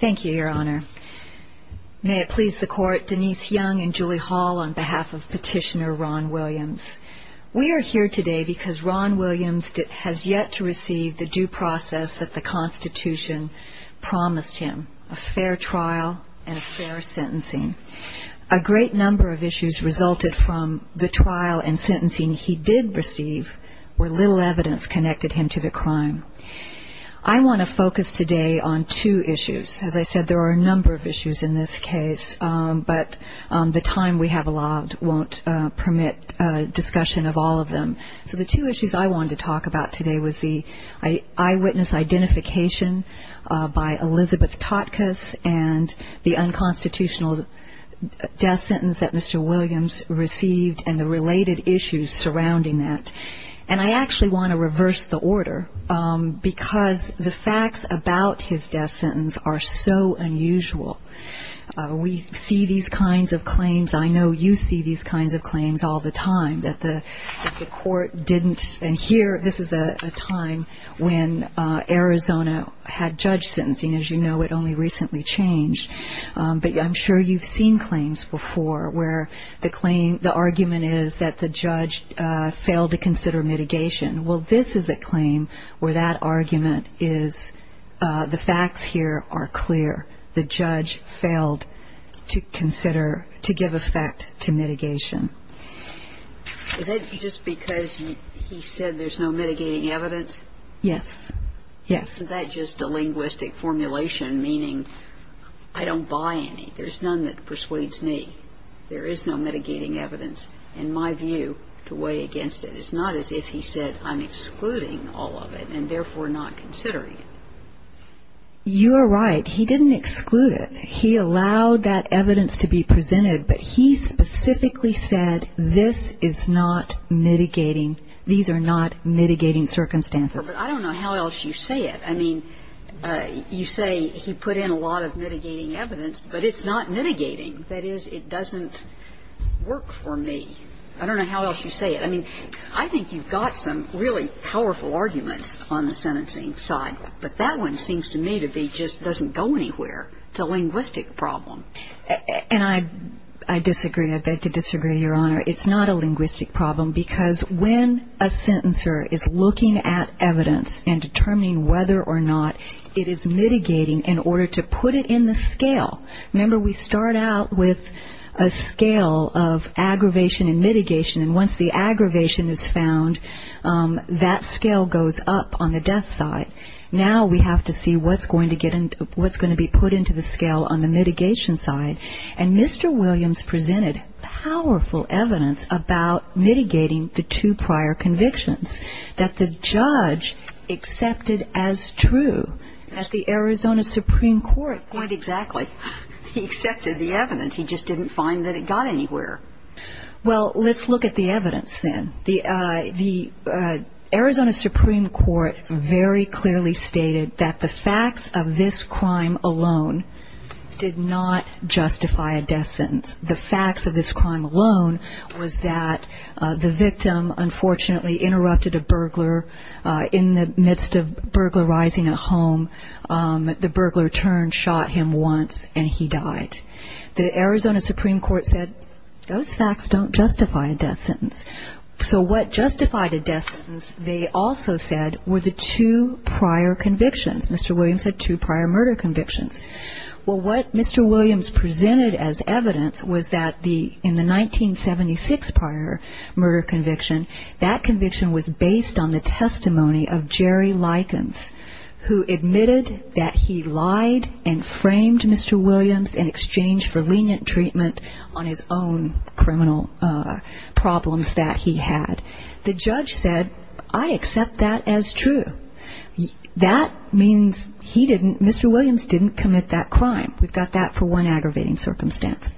Thank you, Your Honor. May it please the Court, Denise Young and Julie Hall on behalf of Petitioner Ron Williams. We are here today because Ron Williams has yet to receive the due process that the Constitution promised him, a fair trial and a fair sentencing. A great number of issues resulted from the trial and sentencing he did receive where little evidence connected him to the crime. I want to focus today on two issues. As I said, there are a number of issues in this case, but the time we have allowed won't permit discussion of all of them. So the two issues I wanted to talk about today was the eyewitness identification by Elizabeth Totkus and the unconstitutional death sentence that Mr. Williams received and the related issues surrounding that. And I actually want to reverse the order because the facts about his death sentence are so unusual. We see these kinds of claims. I know you see these kinds of claims all the time, that the Court didn't adhere. This is a time when Arizona had judge sentencing. As you know, it only recently changed. But I'm sure you've seen claims before where the argument is that the judge failed to consider mitigation. Well, this is a claim where that argument is the facts here are clear. The judge failed to consider, to give effect to mitigation. Is that just because he said there's no mitigating evidence? Yes. Yes. Isn't that just a linguistic formulation, meaning I don't buy any? There's none that persuades me. There is no mitigating evidence. In my view, to weigh against it, it's not as if he said, I'm excluding all of it and therefore not considering it. You're right. He didn't exclude it. He allowed that evidence to be presented, but he specifically said, this is not mitigating. These are not mitigating circumstances. I don't know how else you say it. I mean, you say he put in a lot of mitigating evidence, but it's not mitigating. That is, it doesn't work for me. I don't know how else you say it. I mean, I think you've got some really powerful arguments on the sentencing side, but that one seems to me to be just doesn't go anywhere. It's a linguistic problem. And I disagree. I beg to disagree, Your Honor. It's not a linguistic problem, because when a sentencer is looking at evidence and determining whether or not it is mitigating in order to put it in the scale. Remember, we start out with a scale of aggravation and mitigation, and once the aggravation is found, that scale goes up on the death side. Now we have to see what's going to be put into the scale on the mitigation side. And Mr. Williams presented powerful evidence about mitigating the two prior convictions that the judge accepted as true at the Arizona Supreme Court. Quite exactly. He accepted the evidence. He just didn't find that it got anywhere. Well, let's look at the evidence then. The Arizona Supreme Court very clearly stated that the facts of this crime alone did not justify a death sentence. The facts of this crime alone was that the victim unfortunately interrupted a burglar in the midst of burglarizing a home. The burglar turned, shot him once, and he died. The Arizona Supreme Court said those facts don't justify a death sentence. So what justified a death sentence, they also said, were the two prior convictions. Mr. Williams had two prior murder convictions. Well, what Mr. Williams presented as evidence was that in the 1976 prior murder conviction, that conviction was based on the testimony of Jerry Likens, who admitted that he lied and framed Mr. Williams in exchange for lenient treatment on his own criminal problems that he had. The judge said, I accept that as true. That means he didn't, Mr. Williams didn't commit that crime. We've got that for one aggravating circumstance.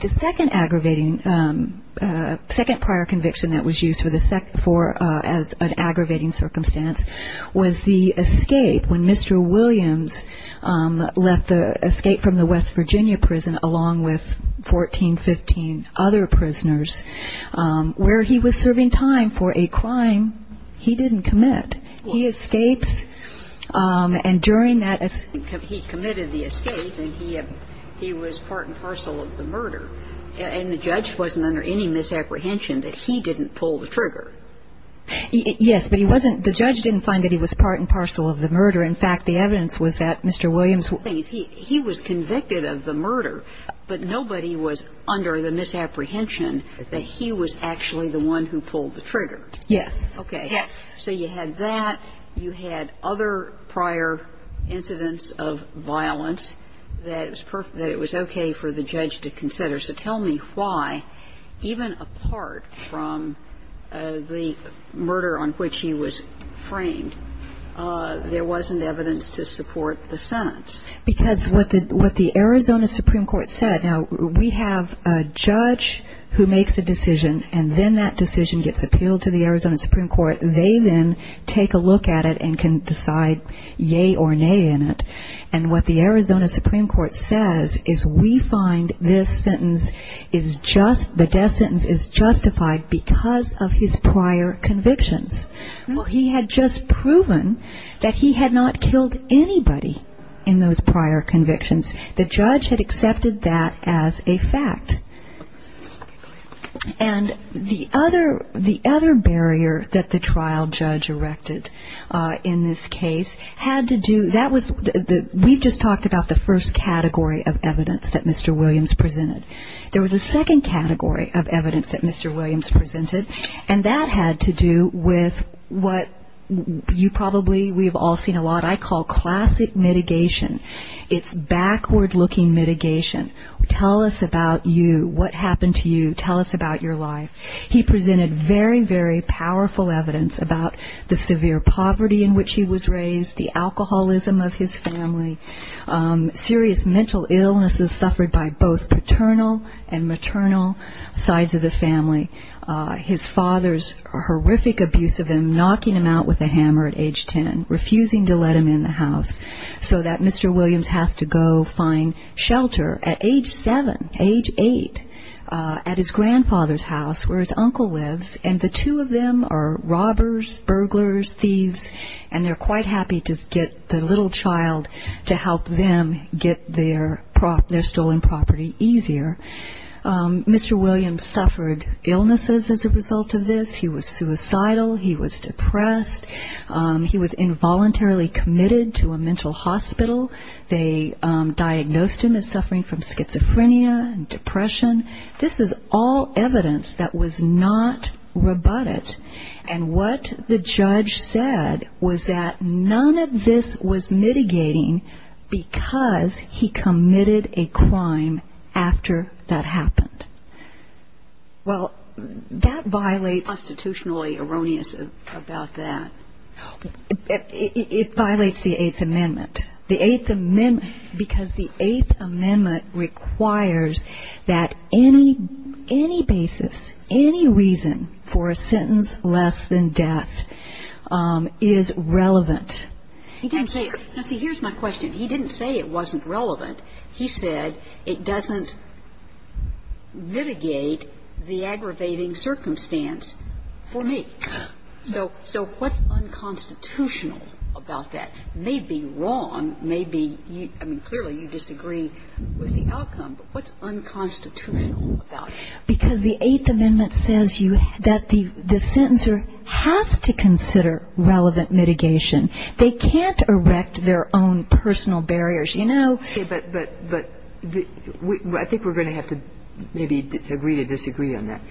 The second aggravating, second prior conviction that was used as an aggravating circumstance was the escape when Mr. Williams left the escape from the West Virginia prison along with 14, 15 other prisoners, where he was serving time for a crime he didn't commit. He escapes, and during that, he committed the escape, and he was part and parcel of the murder. And the judge wasn't under any misapprehension that he didn't pull the trigger. Yes, but he wasn't, the judge didn't find that he was part and parcel of the murder. In fact, the evidence was that Mr. Williams, he was convicted of the murder, but nobody was under the misapprehension that he was actually the one who pulled the trigger. Yes. Okay. Yes. So you had that. You had other prior incidents of violence that it was okay for the judge to consider. So tell me why, even apart from the murder on which he was framed, there wasn't evidence to support the sentence. Because what the Arizona Supreme Court said, now, we have a judge who makes a decision, and then that decision gets appealed to the Arizona Supreme Court. They then take a look at it and can decide yay or nay in it. And what the Arizona Supreme Court says is we find this sentence is just, the death sentence is justified because of his prior convictions. Well, he had just proven that he had not killed anybody in those prior convictions. The judge had accepted that as a fact. And the other barrier that the trial judge erected in this case had to do, that was, we've just talked about the first category of evidence that Mr. Williams presented. There was a second category of evidence that Mr. Williams presented, and that had to do with what you probably, we have all seen a lot, I call classic mitigation. It's backward-looking mitigation. Tell us about you. What happened to you? Tell us about your life. He presented very, very powerful evidence about the severe poverty in which he was raised, the alcoholism of his family, serious mental illnesses suffered by both paternal and maternal sides of the family, his mother knocking him out with a hammer at age ten, refusing to let him in the house so that Mr. Williams has to go find shelter at age seven, age eight, at his grandfather's house where his uncle lives, and the two of them are robbers, burglars, thieves, and they're quite happy to get the little child to help them get their stolen property easier. Mr. Williams suffered illnesses as a child. He was depressed. He was involuntarily committed to a mental hospital. They diagnosed him as suffering from schizophrenia and depression. This is all evidence that was not rebutted, and what the judge said was that none of this was mitigating because he committed a crime after that happened. Well, that violates constitutionally erroneous about that. It violates the Eighth Amendment because the Eighth Amendment requires that any basis, any reason for a sentence less than death is relevant. Here's my question. He didn't say it wasn't relevant. He said it doesn't mitigate the for me. So what's unconstitutional about that? It may be wrong. I mean, clearly you disagree with the outcome, but what's unconstitutional about it? Because the Eighth Amendment says that the sentencer has to consider relevant mitigation. They can't erect their own personal barriers, you know? I think we're going to have to maybe agree to disagree on that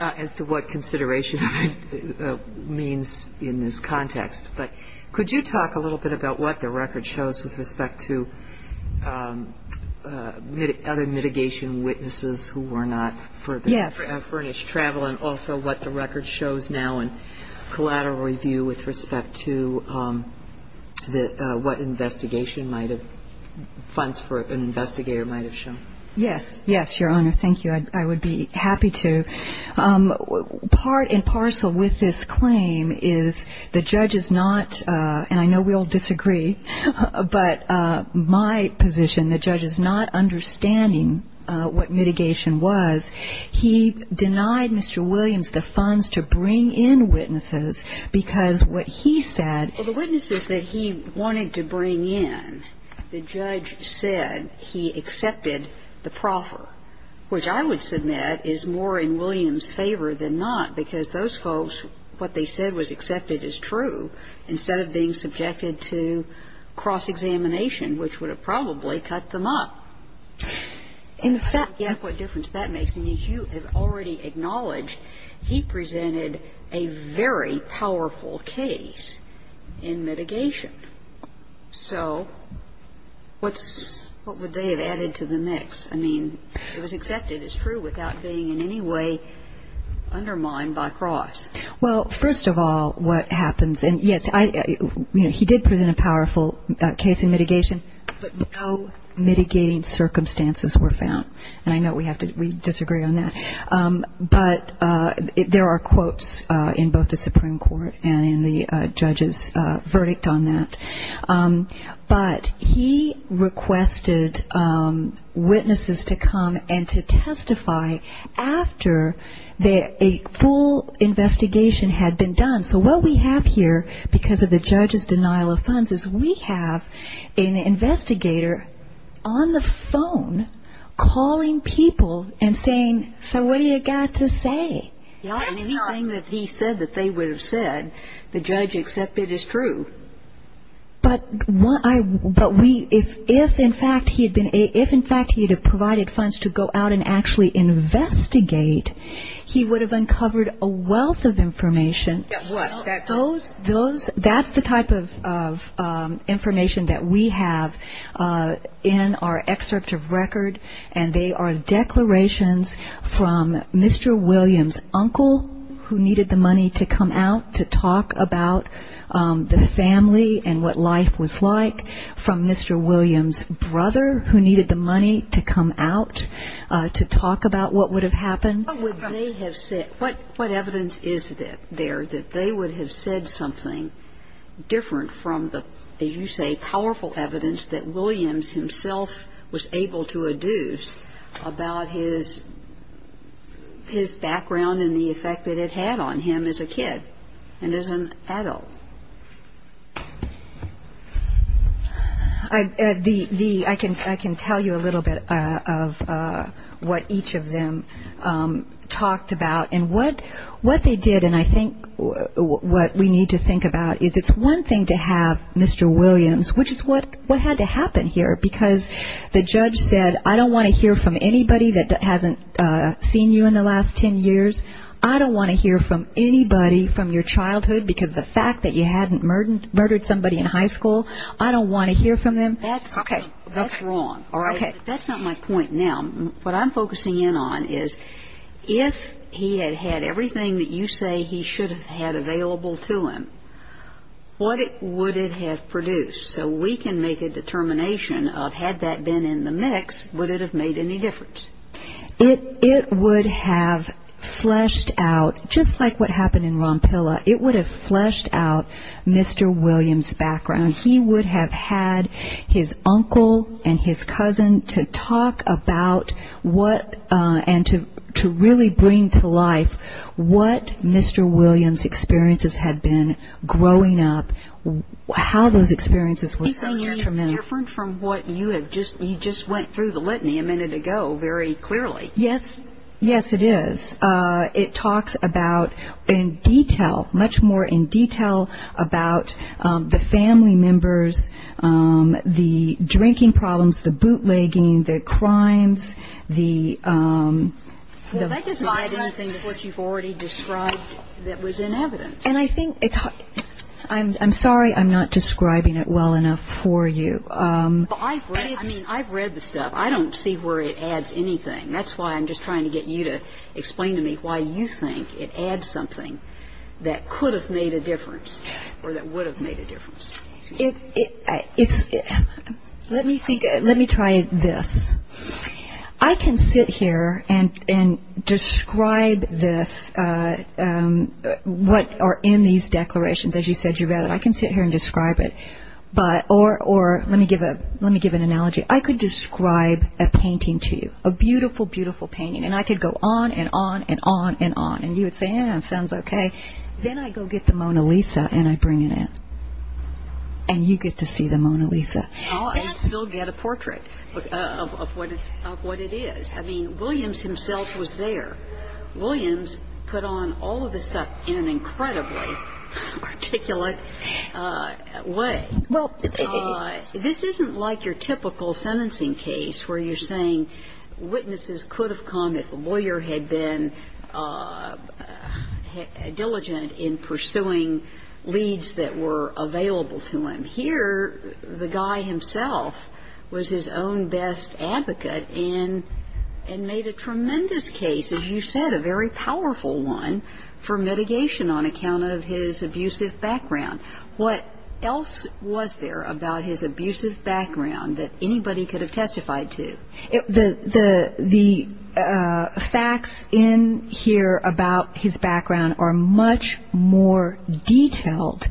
as to what consideration means in this context. But could you talk a little bit about what the record shows with respect to other mitigation witnesses who were not furnished travel and also what the record shows now in collateral review with respect to what investigation might have funds for an investigator might have shown? Yes. Yes, Your Honor. Thank you. I would be happy to. Part in parcel with this claim is the judge is not and I know we all disagree, but my position, the judge is not understanding what mitigation was. He denied Mr. Williams the funds to bring in witnesses because what he said Well, the witnesses that he wanted to bring in, the judge said he would submit is more in Williams' favor than not because those folks, what they said was accepted as true, instead of being subjected to cross-examination, which would have probably cut them up. In fact, I forget what difference that makes, and you have already acknowledged he presented a very powerful case in mitigation. So what's, what would they have added to the mix? I mean, it was accepted as true without being in any way undermined by cross. Well, first of all, what happens, and yes, he did present a powerful case in mitigation, but no mitigating circumstances were found. And I know we have to, we disagree on that. But there are quotes in both the Supreme Court and in the judge's verdict on that. But he requested witnesses to come and to testify after a full investigation had been done. So what we have here, because of the judge's denial of funds, is we have an investigator on the phone calling people and saying, so what do you got to say? Anything that he said that they would have said, the judge accepted as true. But what I, but we, if in fact he had been, if in fact he had provided funds to go out and actually investigate, he would have uncovered a wealth of information that those, that's the type of information that we have in our excerpt of record, and they are declarations from Mr. Williams' uncle, who needed the money to come out to talk about the family and what life was like, from Mr. Williams' brother, who needed the money to come out to talk about what would have happened. What evidence is there that they would have said something different from the, as you say, powerful evidence that Williams himself was able to adduce about his background and the effect that it had on him as a kid and as an adult? I can tell you a little bit of what each of them talked about, and what they did, and I think what we need to think about is it's one thing to have Mr. Williams, which is what had to happen here, because the judge said, I don't want to hear from anybody that hasn't seen you in the last ten years, I don't want to hear from anybody from your childhood, because the fact that you hadn't murdered somebody in high school, I don't want to hear from them. That's wrong. That's not my point. Now, what I'm focusing in on is if he had had everything that you say he should have had available to him, what would it have produced? So we can make a determination of had that been in the mix, would it have made any difference? It would have fleshed out, just like what happened in Rompilla, it would have fleshed out Mr. Williams' background. He would have had his uncle and his cousin to talk about what and to really bring to life what Mr. Williams' experiences had been growing up, how those experiences were so detrimental. You're saying you're different from what you have just you just went through the litany a minute ago very clearly. Yes, it is. It talks about in detail, much more in detail about the family members, the drinking problems, the bootlegging, the crimes, the... Well, that doesn't add anything to what you've already described that was in evidence. I'm sorry I'm not describing it well enough for you. I've read the stuff. I don't see where it adds anything. That's why I'm just trying to get you to explain to me why you think it adds something that could have made a difference or that would have made a difference. Let me try this. I can sit here and describe this, what are in these declarations. As you said, you read it. I can sit here and describe it. Or let me give an analogy. I could describe a painting to you. A beautiful, beautiful painting. And I could go on and on and on and on. And you would say, sounds okay. Then I go get the Mona Lisa and I bring it in. And you get to see the Mona Lisa. I still get a portrait of what it is. I mean, Williams himself was there. Williams put on all of this stuff in an incredibly articulate way. This isn't like your typical sentencing case where you're saying witnesses could have come if the lawyer had been diligent in pursuing leads that were available to him. Here, the guy himself was his own best advocate and made a tremendous case, as you said, a very powerful one for mitigation on account of his abusive background. What else was there about his abusive background that anybody could have testified to? The facts in here about his background are much more detailed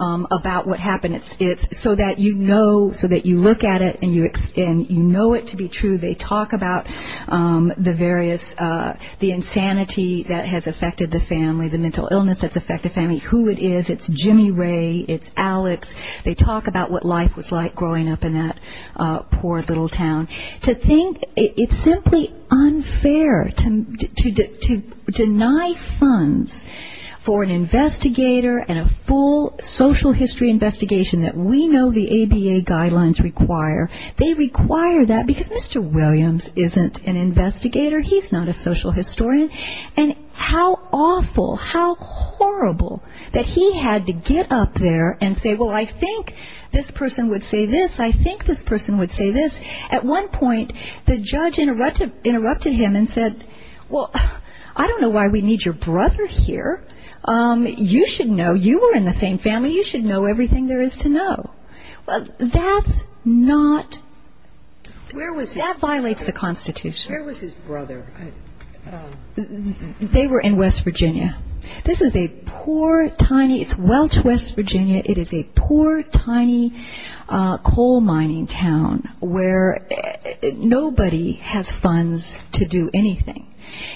about what happened. It's so that you know, so that you look at it and you know it to be true. They talk about the various, the insanity that has affected the family, the mental illness that's affected the family, who it is. It's Jimmy Ray. It's Alex. They talk about what life was like growing up in that poor little town. To think, it's simply unfair to deny funds for an investigator and a full social history investigation that we know the ABA guidelines require. They require that because Mr. Williams isn't an investigator. He's not a social historian. And how awful, how horrible that he had to get up there and say, well, I think this person would say this. I think this person would say this. At one point, the judge interrupted him and said, well, I don't know why we need your brother here. You should know. You were in the same family. You should know everything there is to know. That's not that violates the Constitution. Where was his brother? They were in West Virginia. This is a poor, tiny, it's Welch, West Virginia. It is a poor, tiny coal mining town where nobody has funds to do anything.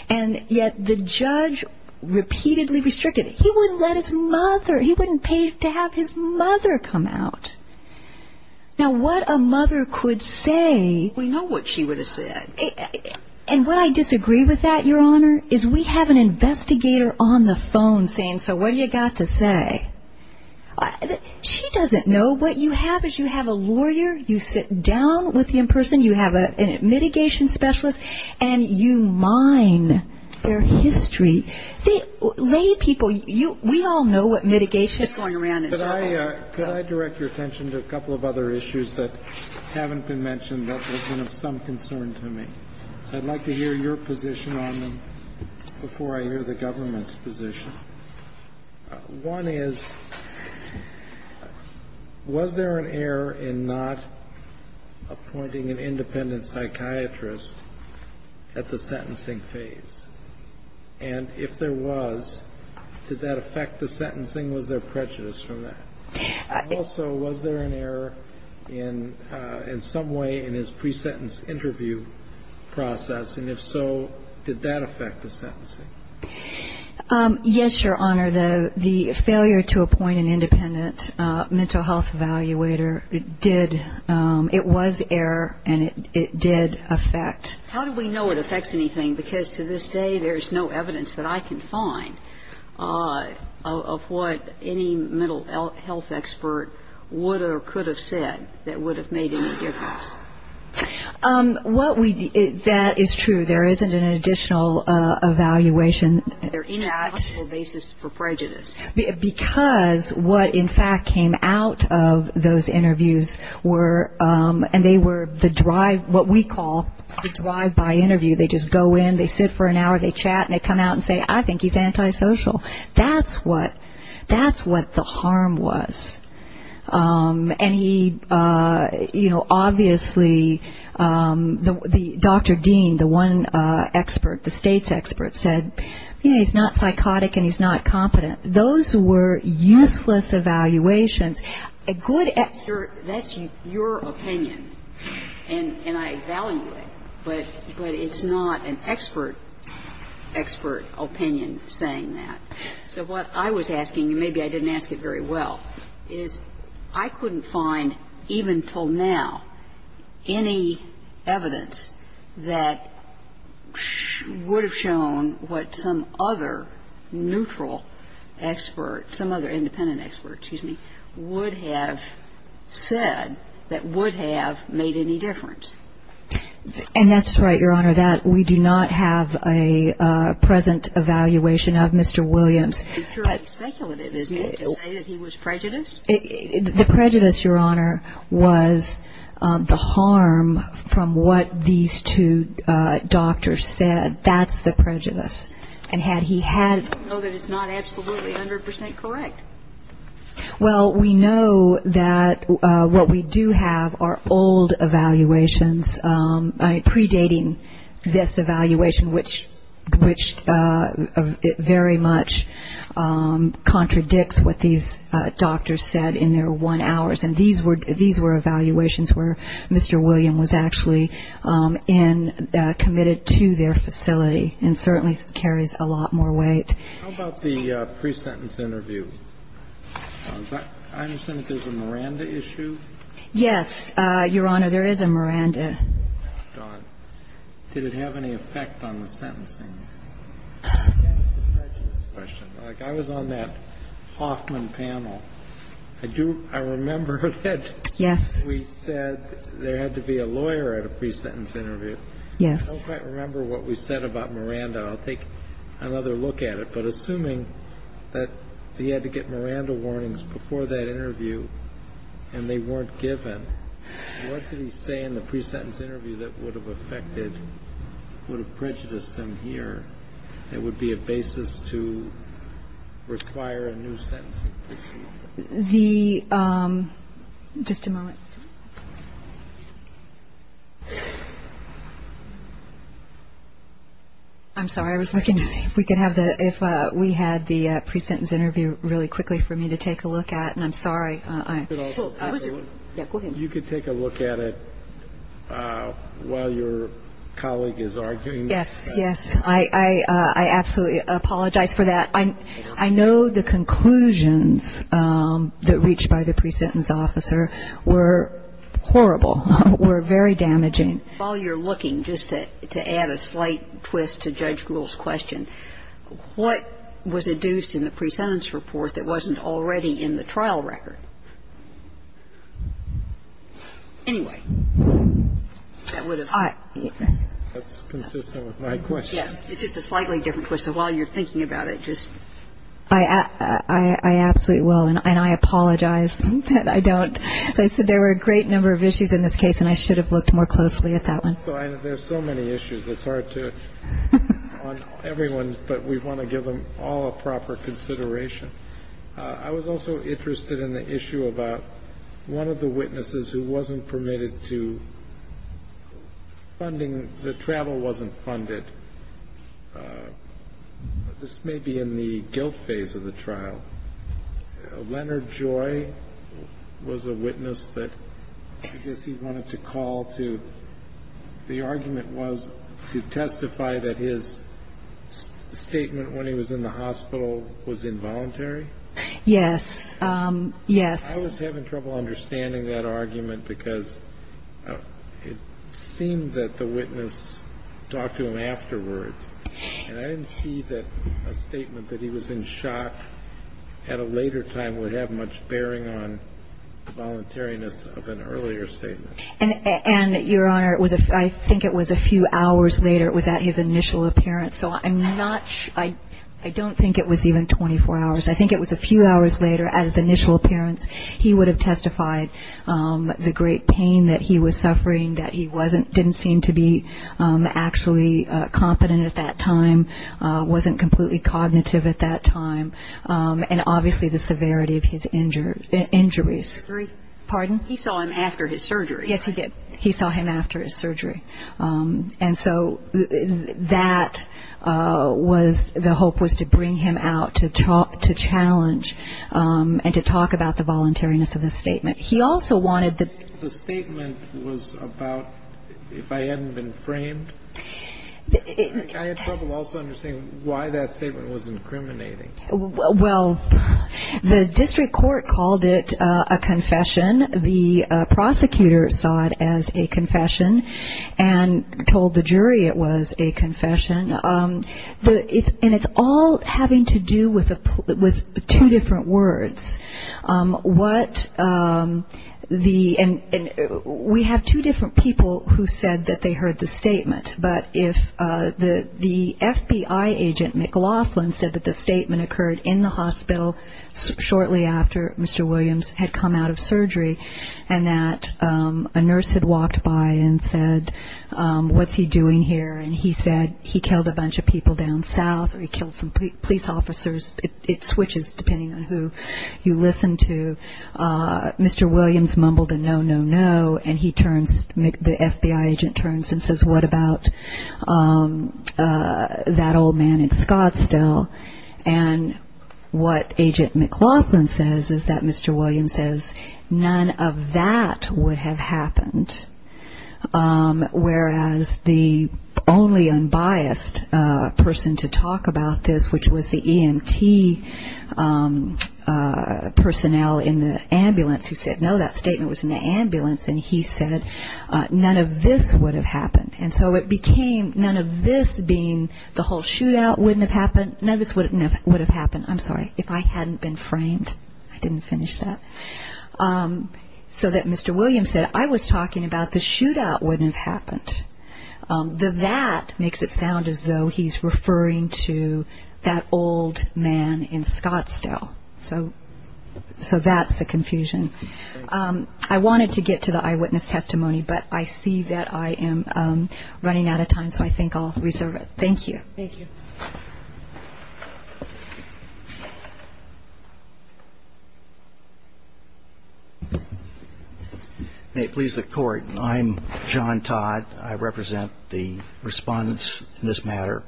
And yet the judge repeatedly restricted it. He wouldn't let his mother, he wouldn't pay to have his mother come out. Now what a mother could say we know what she would have said. And what I disagree with that, Your Honor, is we have an investigator on the phone saying, so what do you got to say? She doesn't know. What you have is you have a lawyer, you sit down with the in-person, you have a mitigation specialist, and you mine their history. They, lay people, we all know what mitigation is. And I'm just going around and talking. Could I direct your attention to a couple of other issues that haven't been mentioned that have been of some concern to me? I'd like to hear your position on them before I hear the government's position. One is, was there an error in not appointing an independent psychiatrist at the sentencing phase? And if there was, did that affect the sentencing? Was there prejudice from that? And also, was there an error in some way in his pre-sentence interview process? And if so, did that affect the sentencing? Yes, Your Honor. The failure to appoint an independent mental health evaluator did. It was error, and it did affect. How do we know it affects anything? Because to this day, there's no evidence that I can find of what any mental health expert would or could have said that would have made any difference. What we, that is true. There isn't an additional evaluation. There is no basis for prejudice. Because what, in fact, came out of those interviews were, and they were the drive, what we call the drive-by interview. They just go in, they sit for an hour, they chat, and they come out and say, I think he's antisocial. That's what, that's what the harm was. And he, you know, obviously, Dr. Dean, the one expert, the state's expert, said, he's not psychotic and he's not competent. Those were useless evaluations. A good expert, that's your opinion, and I value it, but it's not an expert, expert opinion saying that. So what I was asking, and maybe I didn't ask it very well, is I couldn't find, even until now, any evidence that would have shown what some other neutral expert, some other independent expert, excuse me, would have said that would have made any difference. And that's right, Your Honor, that we do not have a present evaluation of Mr. Williams. It's speculative, isn't it, to say that he was prejudiced? The prejudice, Your Honor, was the harm from what these two doctors said. That's the prejudice. And had he had- We know that it's not absolutely 100% correct. Well, we know that what we do have are old evaluations predating this evaluation, which very much contradicts what these doctors said in their one hours. And these were evaluations where Mr. Williams was actually committed to their facility, and certainly carries a lot more weight. How about the pre-sentence interview? I understand that there's a Miranda issue? Yes, Your Honor, there is a Miranda. Did it have any effect on the sentencing? That's a prejudiced question. Like, I was on that Hoffman panel. I do, I remember that- Yes. We said there had to be a lawyer at a pre-sentence interview. Yes. I don't quite remember what we said about Miranda. I'll take another look at it. But assuming that he had to get Miranda warnings before that interview, and they weren't given, what did he say in the pre-sentence interview that would have affected, would have prejudiced him here, that would be a basis to require a new sentencing procedure? The, just a moment. I'm sorry, I was looking to see if we could have the, if we had the pre-sentence interview really quickly for me to take a look at, and I'm sorry. You could take a look at it while your colleague is arguing. Yes, yes. I absolutely apologize for that. I know the conclusions that reached by the pre-sentence officer were horrible, were very damaging. While you're looking, just to add a slight twist to Judge Gould's question, what was induced in the pre-sentence report that wasn't already in the trial record? Anyway, that would have- That's consistent with my question. Yes. It's just a slightly different question. While you're thinking about it, just- I absolutely will, and I apologize that I don't. As I said, there were a great number of issues in this case, and I should have looked more closely at that one. There are so many issues, it's hard to, on everyone, but we want to give them all a proper consideration. I was also interested in the issue about one of the witnesses who wasn't permitted to funding, the travel wasn't funded. This may be in the guilt phase of the trial. Leonard Joy was a witness that I guess he wanted to call to. The argument was to testify that his statement when he was in the hospital was involuntary. Yes. Yes. I was having trouble understanding that argument because it seemed that the witness talked to him afterwards, and I didn't see that a statement that he was in shock at a later time would have much bearing on the voluntariness of an earlier statement. And, Your Honor, I think it was a few hours later. It was at his initial appearance, so I'm not sure. I don't think it was even 24 hours. I think it was a few hours later at his initial appearance. He would have testified the great pain that he was suffering, that he didn't seem to be actually competent at that time, wasn't completely cognitive at that time, and obviously the severity of his injuries. Pardon? He saw him after his surgery. Yes, he did. He saw him after his surgery. And so that was the hope was to bring him out to challenge and to talk about the voluntariness of the statement. He also wanted the... The statement was about if I hadn't been framed. I had trouble also understanding why that statement was incriminating. Well, the district court called it a confession. The prosecutor saw it as a confession and told the jury it was a confession. And it's all having to do with two different words. What the... And we have two different people who said that they heard the statement. But if the FBI agent, McLaughlin, said that the statement occurred in the hospital shortly after Mr. Williams had come out of surgery and that a nurse had walked by and said, what's he doing here? And he said he killed a bunch of people down south or he killed some police officers. It switches depending on who you listen to. Mr. Williams mumbled a no, no, no. And he turns, the FBI agent turns and says, what about that old man in Scottsdale? And what Agent McLaughlin says is that Mr. Williams says none of that would have happened. Whereas the only unbiased person to talk about this, which was the EMT personnel in the ambulance who said no, that statement was in the ambulance, and he said none of this would have happened. And so it became none of this being the whole shootout wouldn't have happened, none of this would have happened, I'm sorry, if I hadn't been framed. I didn't finish that. So that Mr. Williams said I was talking about the shootout wouldn't have happened. The that makes it sound as though he's referring to that old man in Scottsdale. So that's the confusion. I wanted to get to the eyewitness testimony, but I see that I am running out of time, so I think I'll reserve it. Thank you. May it please the Court. I'm John Todd. I represent the respondents in this matter.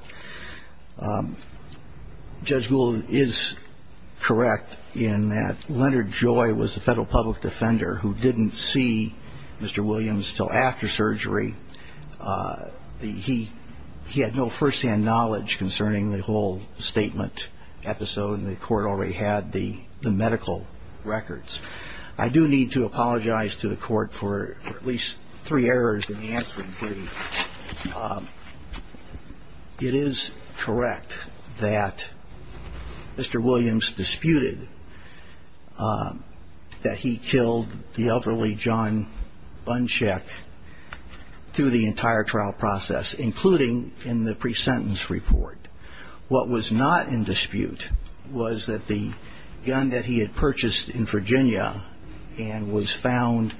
Judge Gould is correct in that Leonard Joy was the federal public defender who didn't see Mr. Williams until after surgery. He had no firsthand knowledge concerning the whole statement episode, and the Court already had the medical records. I do need to apologize to the Court for at least three errors in answering three. It is correct that Mr. Williams disputed that he killed the elderly John Buncheck through the entire trial process, including in the pre-sentence report. What was not in dispute was that the gun that he had purchased in Virginia and was found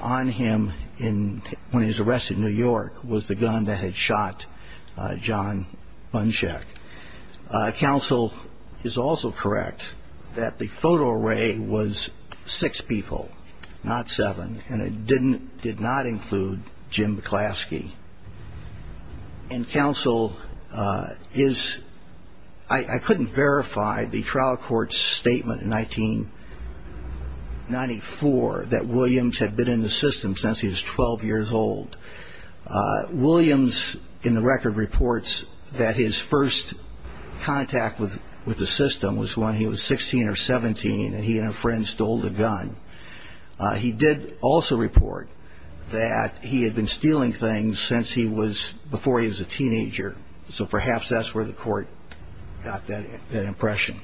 on him when he was arrested in New York was the gun that had shot John Buncheck. Counsel is also correct that the photo array was six people, not seven, and it did not include Jim McClaskey. And counsel is – I couldn't verify the trial court's statement in 1994 that Williams had been in the system since he was 12 years old. Williams in the record reports that his first contact with the system was when he was 16 or 17, and he and a friend stole the gun. He did also report that he had been stealing things since he was – before he was a teenager, so perhaps that's where the Court got that impression.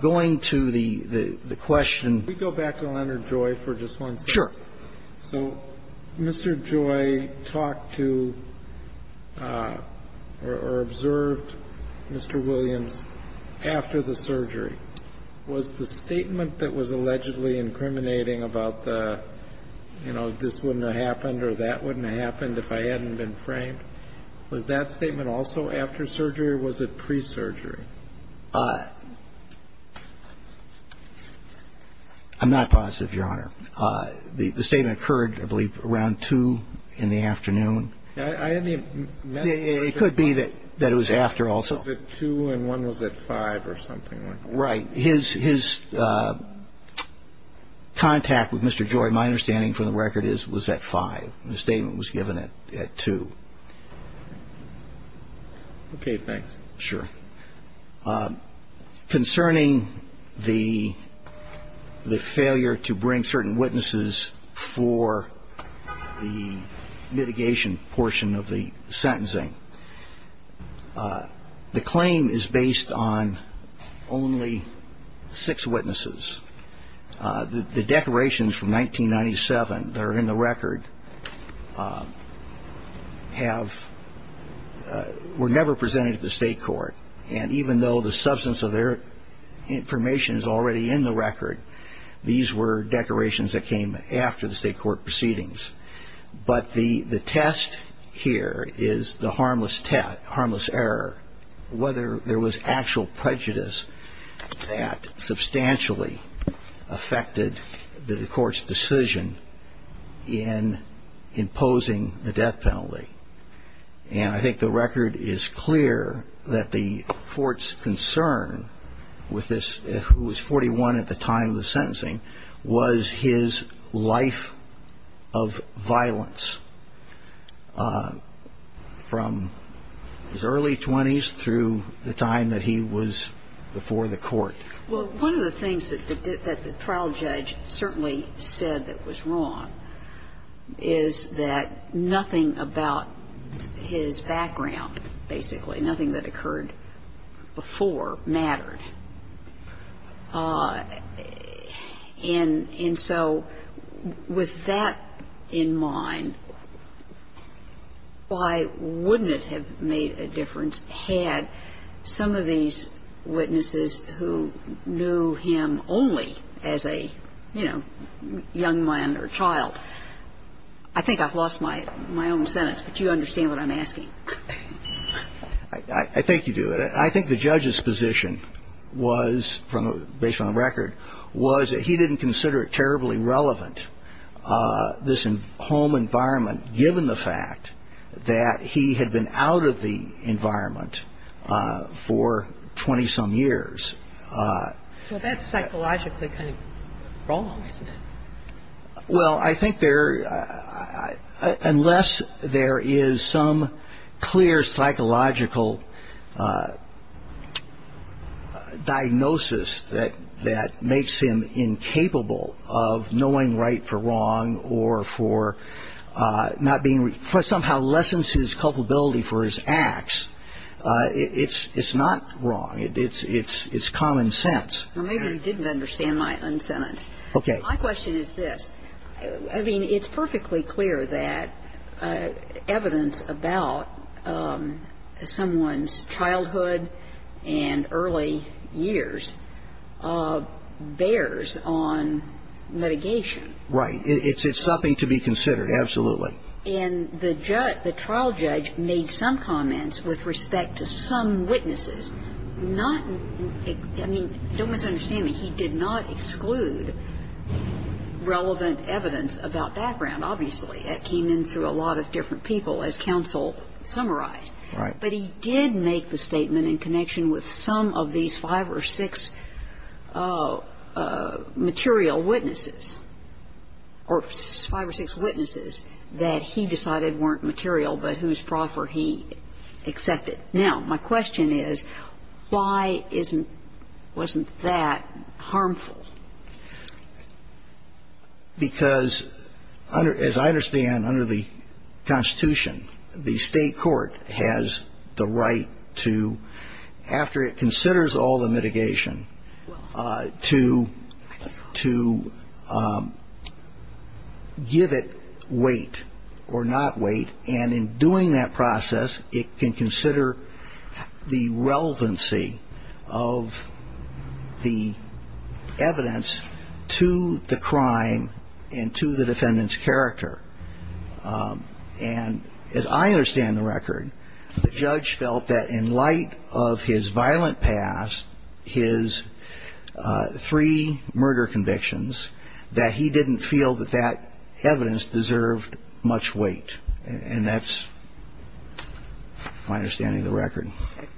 Going to the question – Can we go back to Leonard Joy for just one second? Sure. So Mr. Joy talked to or observed Mr. Williams after the surgery. Was the statement that was allegedly incriminating about the, you know, this wouldn't have happened or that wouldn't have happened if I hadn't been framed, was that statement also after surgery, or was it pre-surgery? I'm not positive, Your Honor. The statement occurred, I believe, around 2 in the afternoon. It could be that it was after also. Was it 2 and 1 was at 5 or something like that? Right. His contact with Mr. Joy, my understanding from the record, was at 5. The statement was given at 2. Okay, thanks. Sure. Concerning the failure to bring certain witnesses for the mitigation portion of the sentencing, the claim is based on only six witnesses. The declarations from 1997 that are in the record were never presented to the state court, and even though the substance of their information is already in the record, these were declarations that came after the state court proceedings. But the test here is the harmless error, whether there was actual prejudice that substantially affected the court's decision in imposing the death penalty. And I think the record is clear that the court's concern with this, who was 41 at the time of the sentencing, was his life of violence from his early 20s through the time that he was before the court. Well, one of the things that the trial judge certainly said that was wrong is that nothing about his background, basically, nothing that occurred before mattered. And so with that in mind, why wouldn't it have made a difference had some of these witnesses who knew him only as a, you know, young man or child. I think I've lost my own sentence, but you understand what I'm asking. I think you do. I think the judge's position was, based on the record, was that he didn't consider it terribly relevant, this home environment, given the fact that he had been out of the environment for 20-some years. Well, that's psychologically kind of wrong, isn't it? Well, I think unless there is some clear psychological diagnosis that makes him incapable of knowing right from wrong or for somehow lessens his culpability for his acts, it's not wrong. It's common sense. Maybe you didn't understand my sentence. Okay. My question is this. I mean, it's perfectly clear that evidence about someone's childhood and early years bears on litigation. Right. It's something to be considered, absolutely. And the trial judge made some comments with respect to some witnesses. I mean, don't misunderstand me. He did not exclude relevant evidence about background, obviously. That came in through a lot of different people, as counsel summarized. Right. But he did make the statement in connection with some of these five or six material witnesses, or five or six witnesses that he decided weren't material but whose proffer he accepted. Now, my question is, why wasn't that harmful? Because, as I understand, under the Constitution, the state court has the right to, after it considers all the mitigation, to give it weight or not weight. And in doing that process, it can consider the relevancy of the evidence to the crime and to the defendant's character. And as I understand the record, the judge felt that in light of his violent past, his three murder convictions, that he didn't feel that that evidence deserved much weight. And that's my understanding of the record.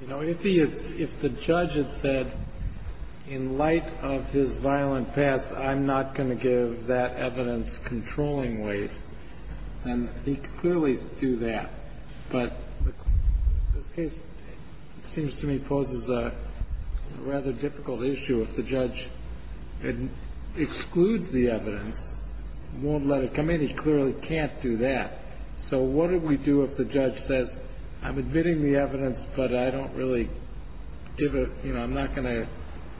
You know, if the judge had said, in light of his violent past, I'm not going to give that evidence controlling weight, then he could clearly do that. But this case seems to me poses a rather difficult issue. If the judge excludes the evidence, won't let it come in, he clearly can't do that. So what do we do if the judge says, I'm admitting the evidence, but I don't really give it, you know, I'm not going to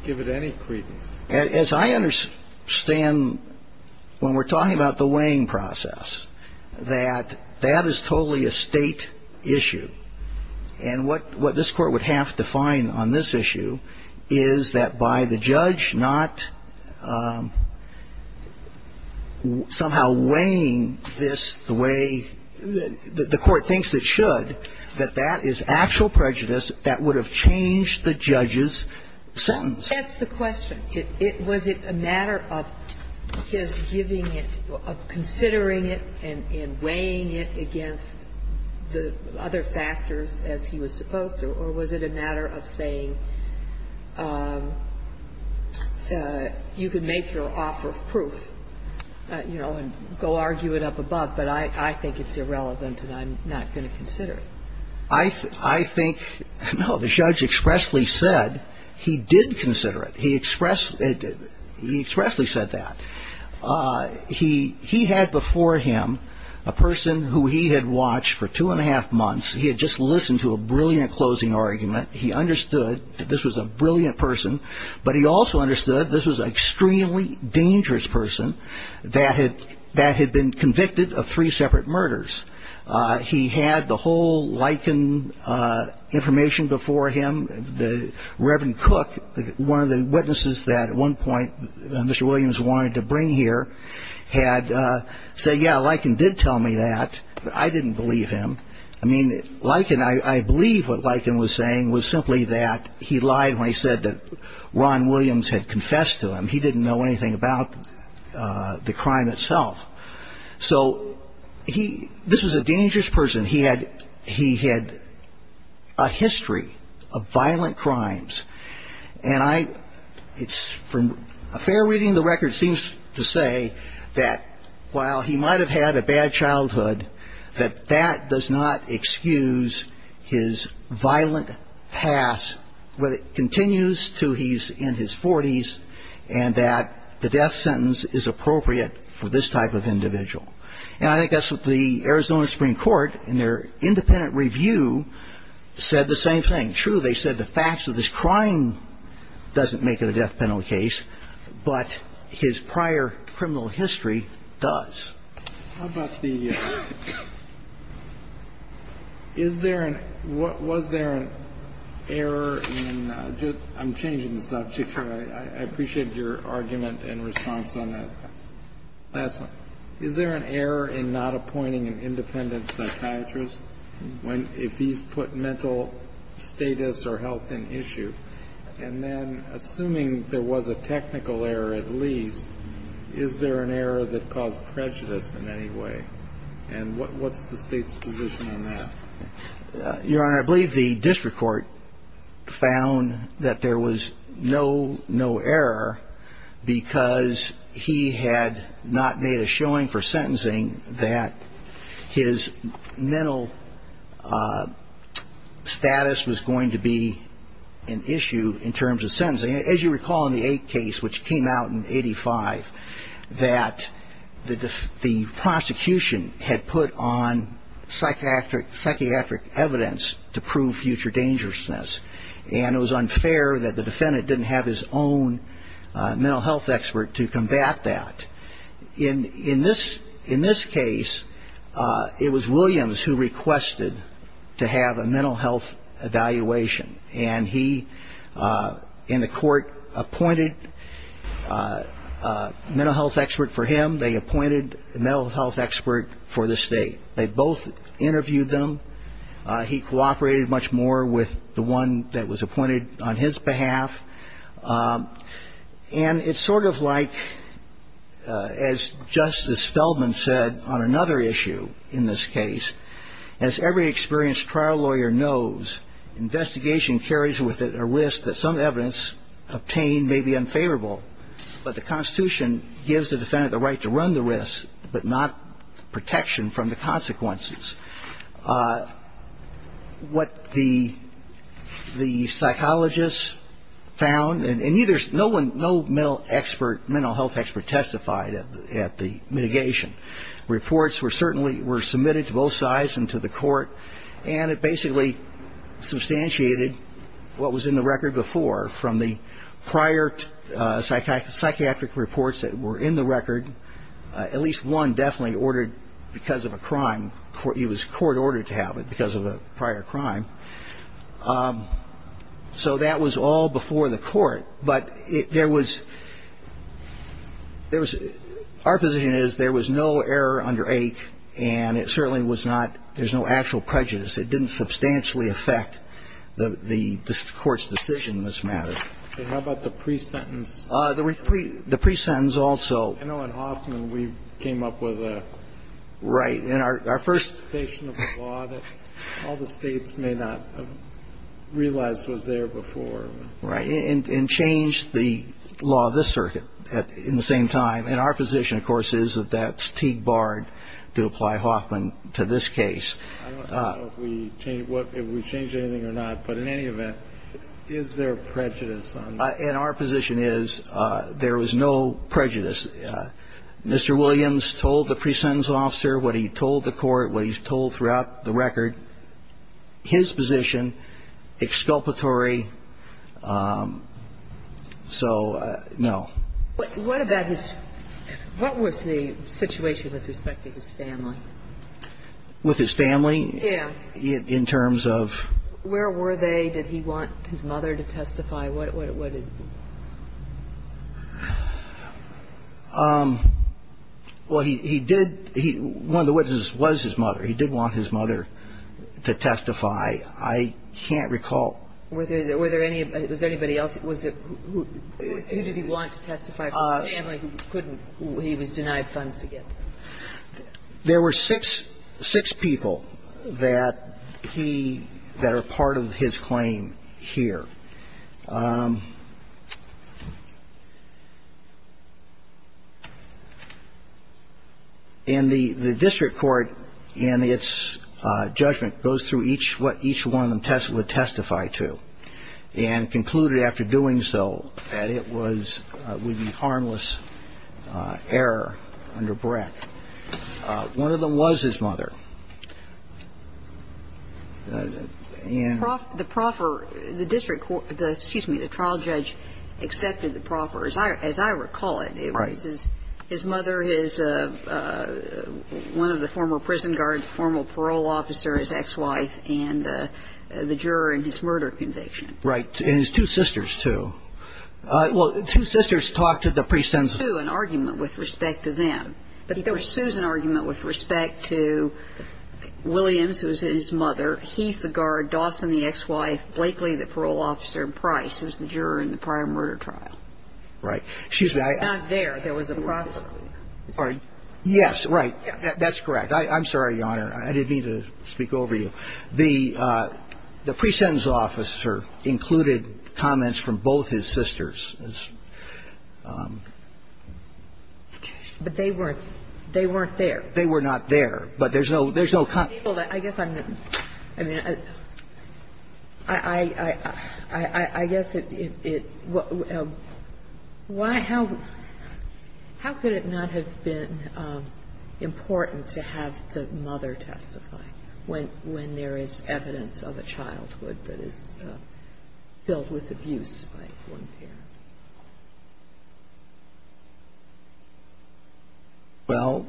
give it any credence? As I understand, when we're talking about the weighing process, that that is totally a State issue. And what this Court would have to find on this issue is that by the judge not somehow weighing this the way the Court thinks it should, that that is actual prejudice that would have changed the judge's sentence. That's the question. Was it a matter of his giving it, of considering it and weighing it against the other factors as he was supposed to? Or was it a matter of saying you can make your offer of proof, you know, and go argue it up above, but I think it's irrelevant and I'm not going to consider it? I think, no, the judge expressly said he did consider it. He expressly said that. He had before him a person who he had watched for two and a half months. He had just listened to a brilliant closing argument. He understood that this was a brilliant person, but he also understood this was an extremely dangerous person that had been convicted of three separate murders. He had the whole Likin information before him. The Reverend Cook, one of the witnesses that at one point Mr. Williams wanted to bring here had said, yeah, Likin did tell me that, but I didn't believe him. I mean, Likin, I believe what Likin was saying was simply that he lied when he said that Ron Williams had confessed to him. He didn't know anything about the crime itself. So this was a dangerous person. He had a history of violent crimes. And from a fair reading of the record seems to say that while he might have had a bad childhood, that that does not excuse his violent past. But it continues to he's in his 40s and that the death sentence is appropriate for this type of individual. And I think that's what the Arizona Supreme Court in their independent review said the same thing. True, they said the facts of this crime doesn't make it a death penalty case, but his prior criminal history does. How about the Is there an what was there an error in I'm changing the subject here. I appreciate your argument and response on that. Last one. Is there an error in not appointing an independent psychiatrist when if he's put mental status or health in issue and then assuming there was a technical error at least, is there an error that caused prejudice in any way? And what's the state's position on that? Your Honor, I believe the district court found that there was no no error because he had not made a showing for sentencing that his mental status was going to be an issue in terms of sentencing. As you recall in the eight case which came out in 85, that the prosecution had put on psychiatric evidence to prove future dangerousness. And it was unfair that the defendant didn't have his own mental health expert to combat that. In this case, it was Williams who requested to have a mental health evaluation. And he and the court appointed a mental health expert for him. They appointed a mental health expert for the state. They both interviewed them. He cooperated much more with the one that was appointed on his behalf. And it's sort of like as Justice Feldman said on another issue in this case, as every experienced trial lawyer knows, investigation carries with it a risk that some evidence obtained may be unfavorable. But the Constitution gives the defendant the right to run the risk, but not protection from the consequences. What the psychologists found, and no mental health expert testified at the mitigation. Reports were certainly submitted to both sides and to the court. And it basically substantiated what was in the record before from the prior psychiatric reports that were in the record. At least one definitely ordered because of a crime. It was court-ordered to have it because of a prior crime. So that was all before the court. But there was, there was, our position is there was no error under AIC, and it certainly was not, there's no actual prejudice. It didn't substantially affect the court's decision in this matter. Okay. How about the pre-sentence? The pre-sentence also. I know in Hoffman we came up with a. Right. And our first. Statement of the law that all the States may not have realized was there before. Right. And changed the law of this circuit in the same time. And our position, of course, is that that's Teague Bard to apply Hoffman to this case. I don't know if we changed anything or not, but in any event, is there prejudice on that? And our position is there was no prejudice. Mr. Williams told the pre-sentence officer what he told the court, what he's told throughout the record, his position, exculpatory. So, no. What about his, what was the situation with respect to his family? With his family? Yeah. In terms of. Where were they? Did he want his mother to testify? What did. Well, he did, one of the witnesses was his mother. He did want his mother to testify. I can't recall. Were there any, was there anybody else? Was it, who did he want to testify for his family who couldn't, who he was denied funds to get? There were six, six people that he, that are part of his claim here. And the, the district court in its judgment goes through each, what each one of them would testify to, and concluded after doing so that it was, would be harmless error under Breck. One of them was his mother. And. Excuse me. The trial judge accepted the proper, as I recall it. Right. It was his mother, his, one of the former prison guards, formal parole officer, his ex-wife, and the juror in his murder conviction. Right. And his two sisters, too. Well, two sisters talked to the. An argument with respect to them. But he pursues an argument with respect to Williams, who was his mother, Heath, who was his ex-wife. And then there was the guard, Dawson, the ex-wife, Blakely, the parole officer, and Price, who was the juror in the prior murder trial. Right. Excuse me. Not there. There was a process. Yes. Right. That's correct. I'm sorry, Your Honor. I didn't mean to speak over you. The, the pre-sentence officer included comments from both his sisters. But they weren't, they weren't there. They were not there. But there's no, there's no comment. I guess I'm, I mean, I, I, I guess it, it, why, how, how could it not have been important to have the mother testify when, when there is evidence of a childhood that is filled with abuse by one parent? Well,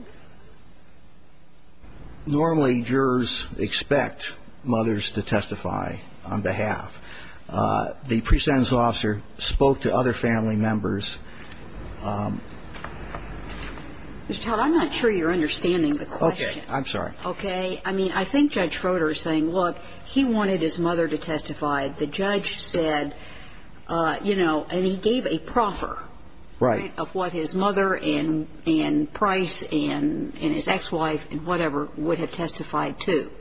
normally jurors expect mothers to testify on behalf. The pre-sentence officer spoke to other family members. Mr. Todd, I'm not sure you're understanding the question. Okay. I'm sorry. Okay. I mean, I think Judge Froder is saying, look, he wanted his mother to testify. The judge said, you know, and he gave a proffer. Right. Of what his mother and, and Price and, and his ex-wife and whatever would have testified to.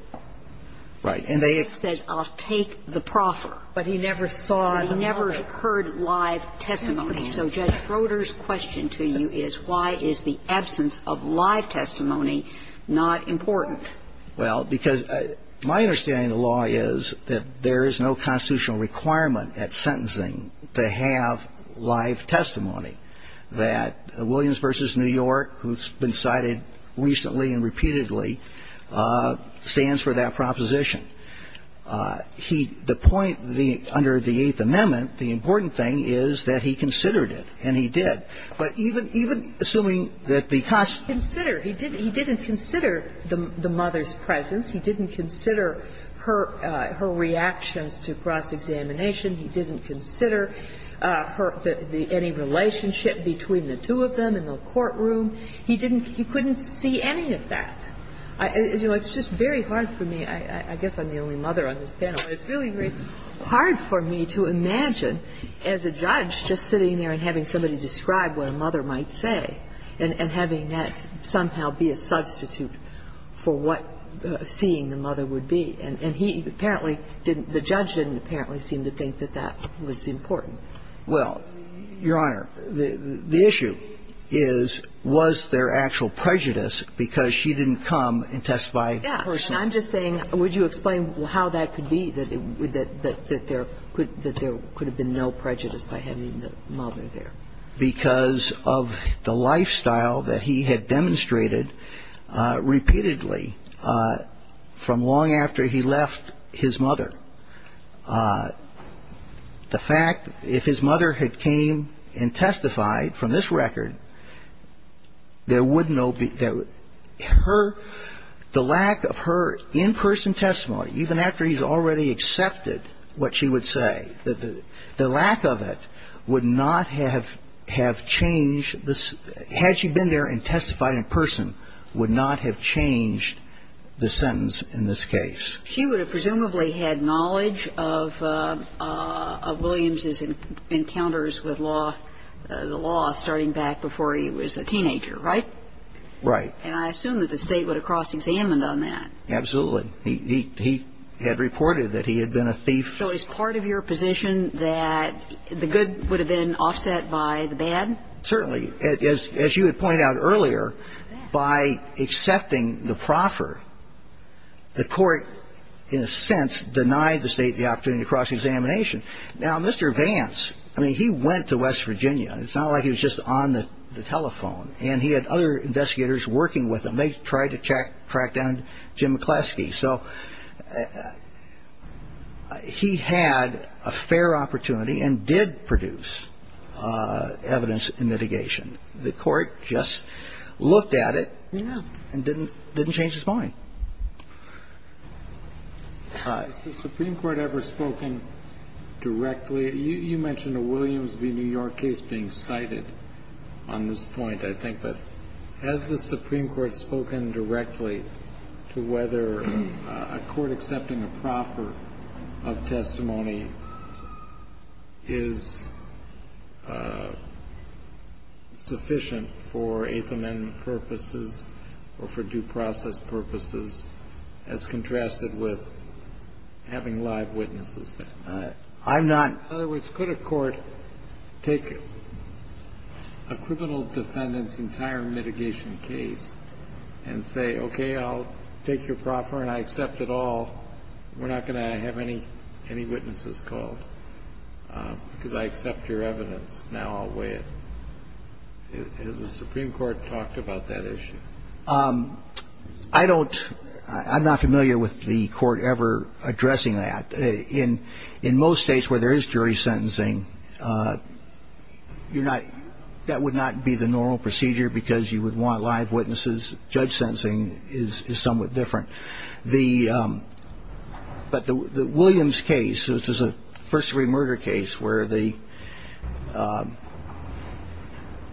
Right. And they. He said, I'll take the proffer. But he never saw. He never heard live testimony. So Judge Froder's question to you is why is the absence of live testimony not important? Well, because my understanding of the law is that there is no constitutional requirement at sentencing to have live testimony. That Williams v. New York, who's been cited recently and repeatedly, stands for that proposition. He, the point, the, under the Eighth Amendment, the important thing is that he considered it, and he did. But even, even assuming that the. Consider. He did, he didn't consider the, the mother's presence. He didn't consider her, her reactions to cross-examination. He didn't consider her, the, the, any relationship between the two of them in the courtroom. He didn't, he couldn't see any of that. I, you know, it's just very hard for me. I, I guess I'm the only mother on this panel. But it's really very hard for me to imagine as a judge just sitting there and having somebody describe what a mother might say and, and having that somehow be a substitute for what seeing the mother would be. And he apparently didn't, the judge didn't apparently seem to think that that was important. Well, Your Honor, the, the issue is, was there actual prejudice because she didn't come and testify personally? Yeah. And I'm just saying, would you explain how that could be, that it would, that, that there could, that there could have been no prejudice by having the mother there? Because of the lifestyle that he had demonstrated repeatedly from long after he left his mother. The fact, if his mother had came and testified from this record, there would no be, there would, her, the lack of her in-person testimony, even after he's already accepted what she would say, the, the lack of it would not have, have changed the, had she been there and testified in person, would not have changed the sentence in this case. She would have presumably had knowledge of, of Williams' encounters with law, the law starting back before he was a teenager, right? Right. And I assume that the State would have cross-examined on that. Absolutely. He, he, he had reported that he had been a thief. So is part of your position that the good would have been offset by the bad? Certainly. As, as you had pointed out earlier, by accepting the proffer, the court, in a sense, denied the State the opportunity to cross-examination. Now, Mr. Vance, I mean, he went to West Virginia. It's not like he was just on the telephone. And he had other investigators working with him. They tried to track down Jim McCleskey. So he had a fair opportunity and did produce evidence in litigation. The court just looked at it and didn't, didn't change his mind. Has the Supreme Court ever spoken directly? You mentioned a Williams v. New York case being cited on this point, I think. But has the Supreme Court spoken directly to whether a court accepting a proffer of testimony is sufficient for Eighth Amendment purposes or for due process purposes, as contrasted with having live witnesses there? I'm not. In other words, could a court take a criminal defendant's entire mitigation case and say, okay, I'll take your proffer and I accept it all. We're not going to have any, any witnesses called because I accept your evidence. Now I'll weigh it. Has the Supreme Court talked about that issue? I don't, I'm not familiar with the court ever addressing that. In most states where there is jury sentencing, you're not, that would not be the normal procedure because you would want live witnesses. Judge sentencing is somewhat different. The, but the Williams case, which is a first-degree murder case where the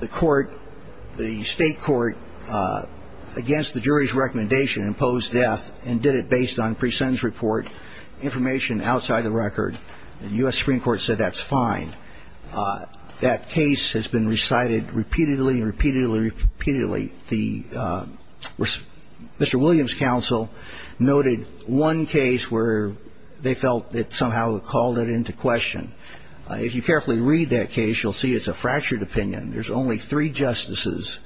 court, the state court against the jury's recommendation imposed death and did it based on pre-sentence report, information outside the record. The U.S. Supreme Court said that's fine. That case has been recited repeatedly and repeatedly and repeatedly. The Mr. Williams counsel noted one case where they felt it somehow called it into question. If you carefully read that case, you'll see it's a fractured opinion. There's only three justices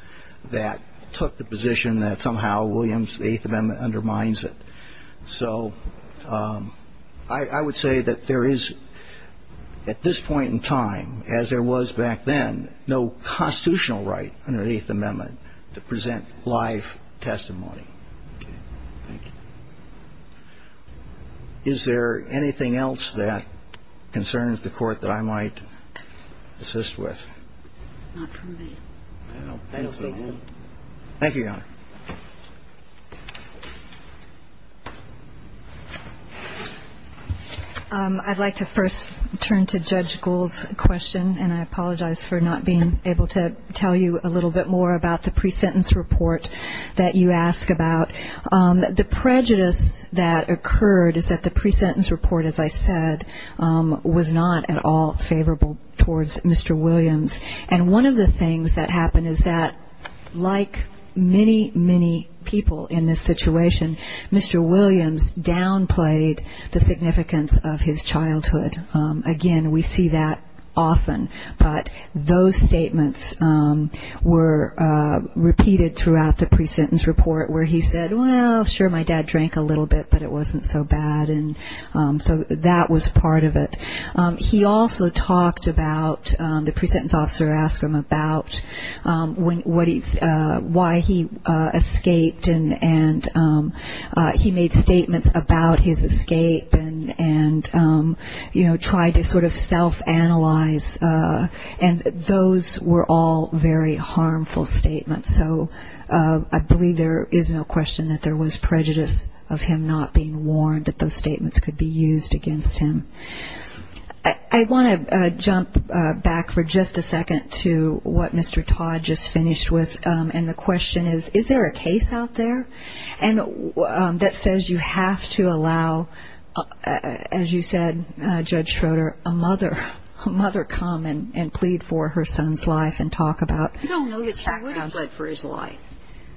that took the position that somehow Williams, the Eighth Amendment, undermines it. So I would say that there is, at this point in time, as there was back then, no constitutional right under the Eighth Amendment to present live testimony. Okay. Thank you. Is there anything else that concerns the Court that I might assist with? Not from me. I don't think so. Thank you, Your Honor. I'd like to first turn to Judge Gould's question. And I apologize for not being able to tell you a little bit more about the pre-sentence report that you ask about. The prejudice that occurred is that the pre-sentence report, as I said, was not at all favorable towards Mr. Williams. And one of the things that happened is that, like many, many people in this situation, Mr. Williams downplayed the significance of his childhood. Again, we see that often. But those statements were repeated throughout the pre-sentence report where he said, well, sure, my dad drank a little bit, but it wasn't so bad. And so that was part of it. He also talked about, the pre-sentence officer asked him about why he escaped, and he made statements about his escape and, you know, tried to sort of self-analyze. And those were all very harmful statements. So I believe there is no question that there was prejudice of him not being warned, that those statements could be used against him. I want to jump back for just a second to what Mr. Todd just finished with. And the question is, is there a case out there that says you have to allow, as you said, Judge Schroeder, a mother come and plead for her son's life and talk about his background? I don't know that he would have pled for his life.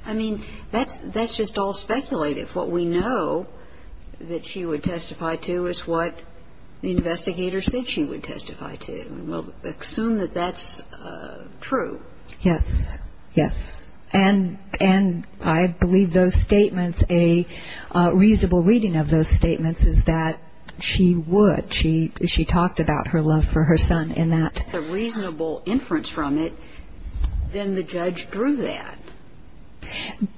I mean, that's just all speculative. What we know that she would testify to is what the investigator said she would testify to. And we'll assume that that's true. Yes. Yes. And I believe those statements, a reasonable reading of those statements is that she would. She talked about her love for her son in that. If there's a reasonable inference from it, then the judge drew that.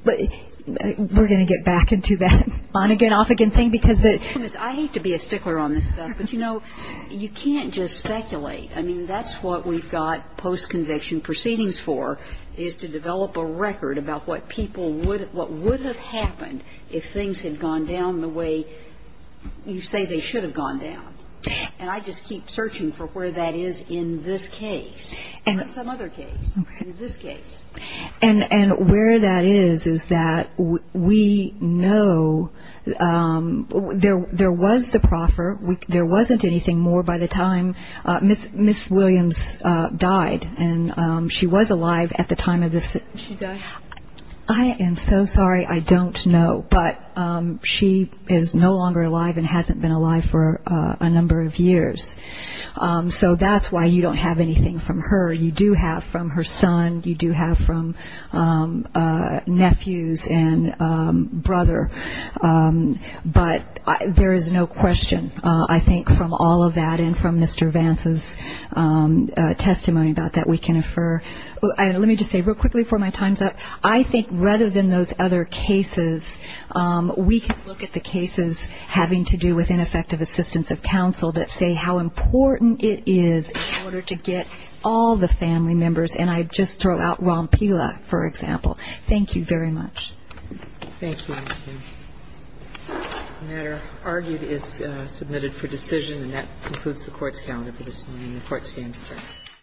But we're going to get back into that on-again, off-again thing because the – I hate to be a stickler on this stuff, but, you know, you can't just speculate. I mean, that's what we've got post-conviction proceedings for is to develop a record about what people would – what would have happened if things had gone down the way you say they should have gone down. And I just keep searching for where that is in this case and some other case, in this case. Okay. And where that is is that we know there was the proffer. There wasn't anything more by the time – Ms. Williams died, and she was alive at the time of this. She died? I am so sorry. I don't know. But she is no longer alive and hasn't been alive for a number of years. So that's why you don't have anything from her. You do have from her son. You do have from nephews and brother. But there is no question, I think, from all of that and from Mr. Vance's testimony about that we can infer. Let me just say real quickly before my time's up. I think rather than those other cases, we can look at the cases having to do with ineffective assistance of counsel that say how important it is in order to get all the family members. And I just throw out Rompila, for example. Thank you very much. Thank you. The matter argued is submitted for decision. And that concludes the Court's calendar for this morning. The Court stands adjourned.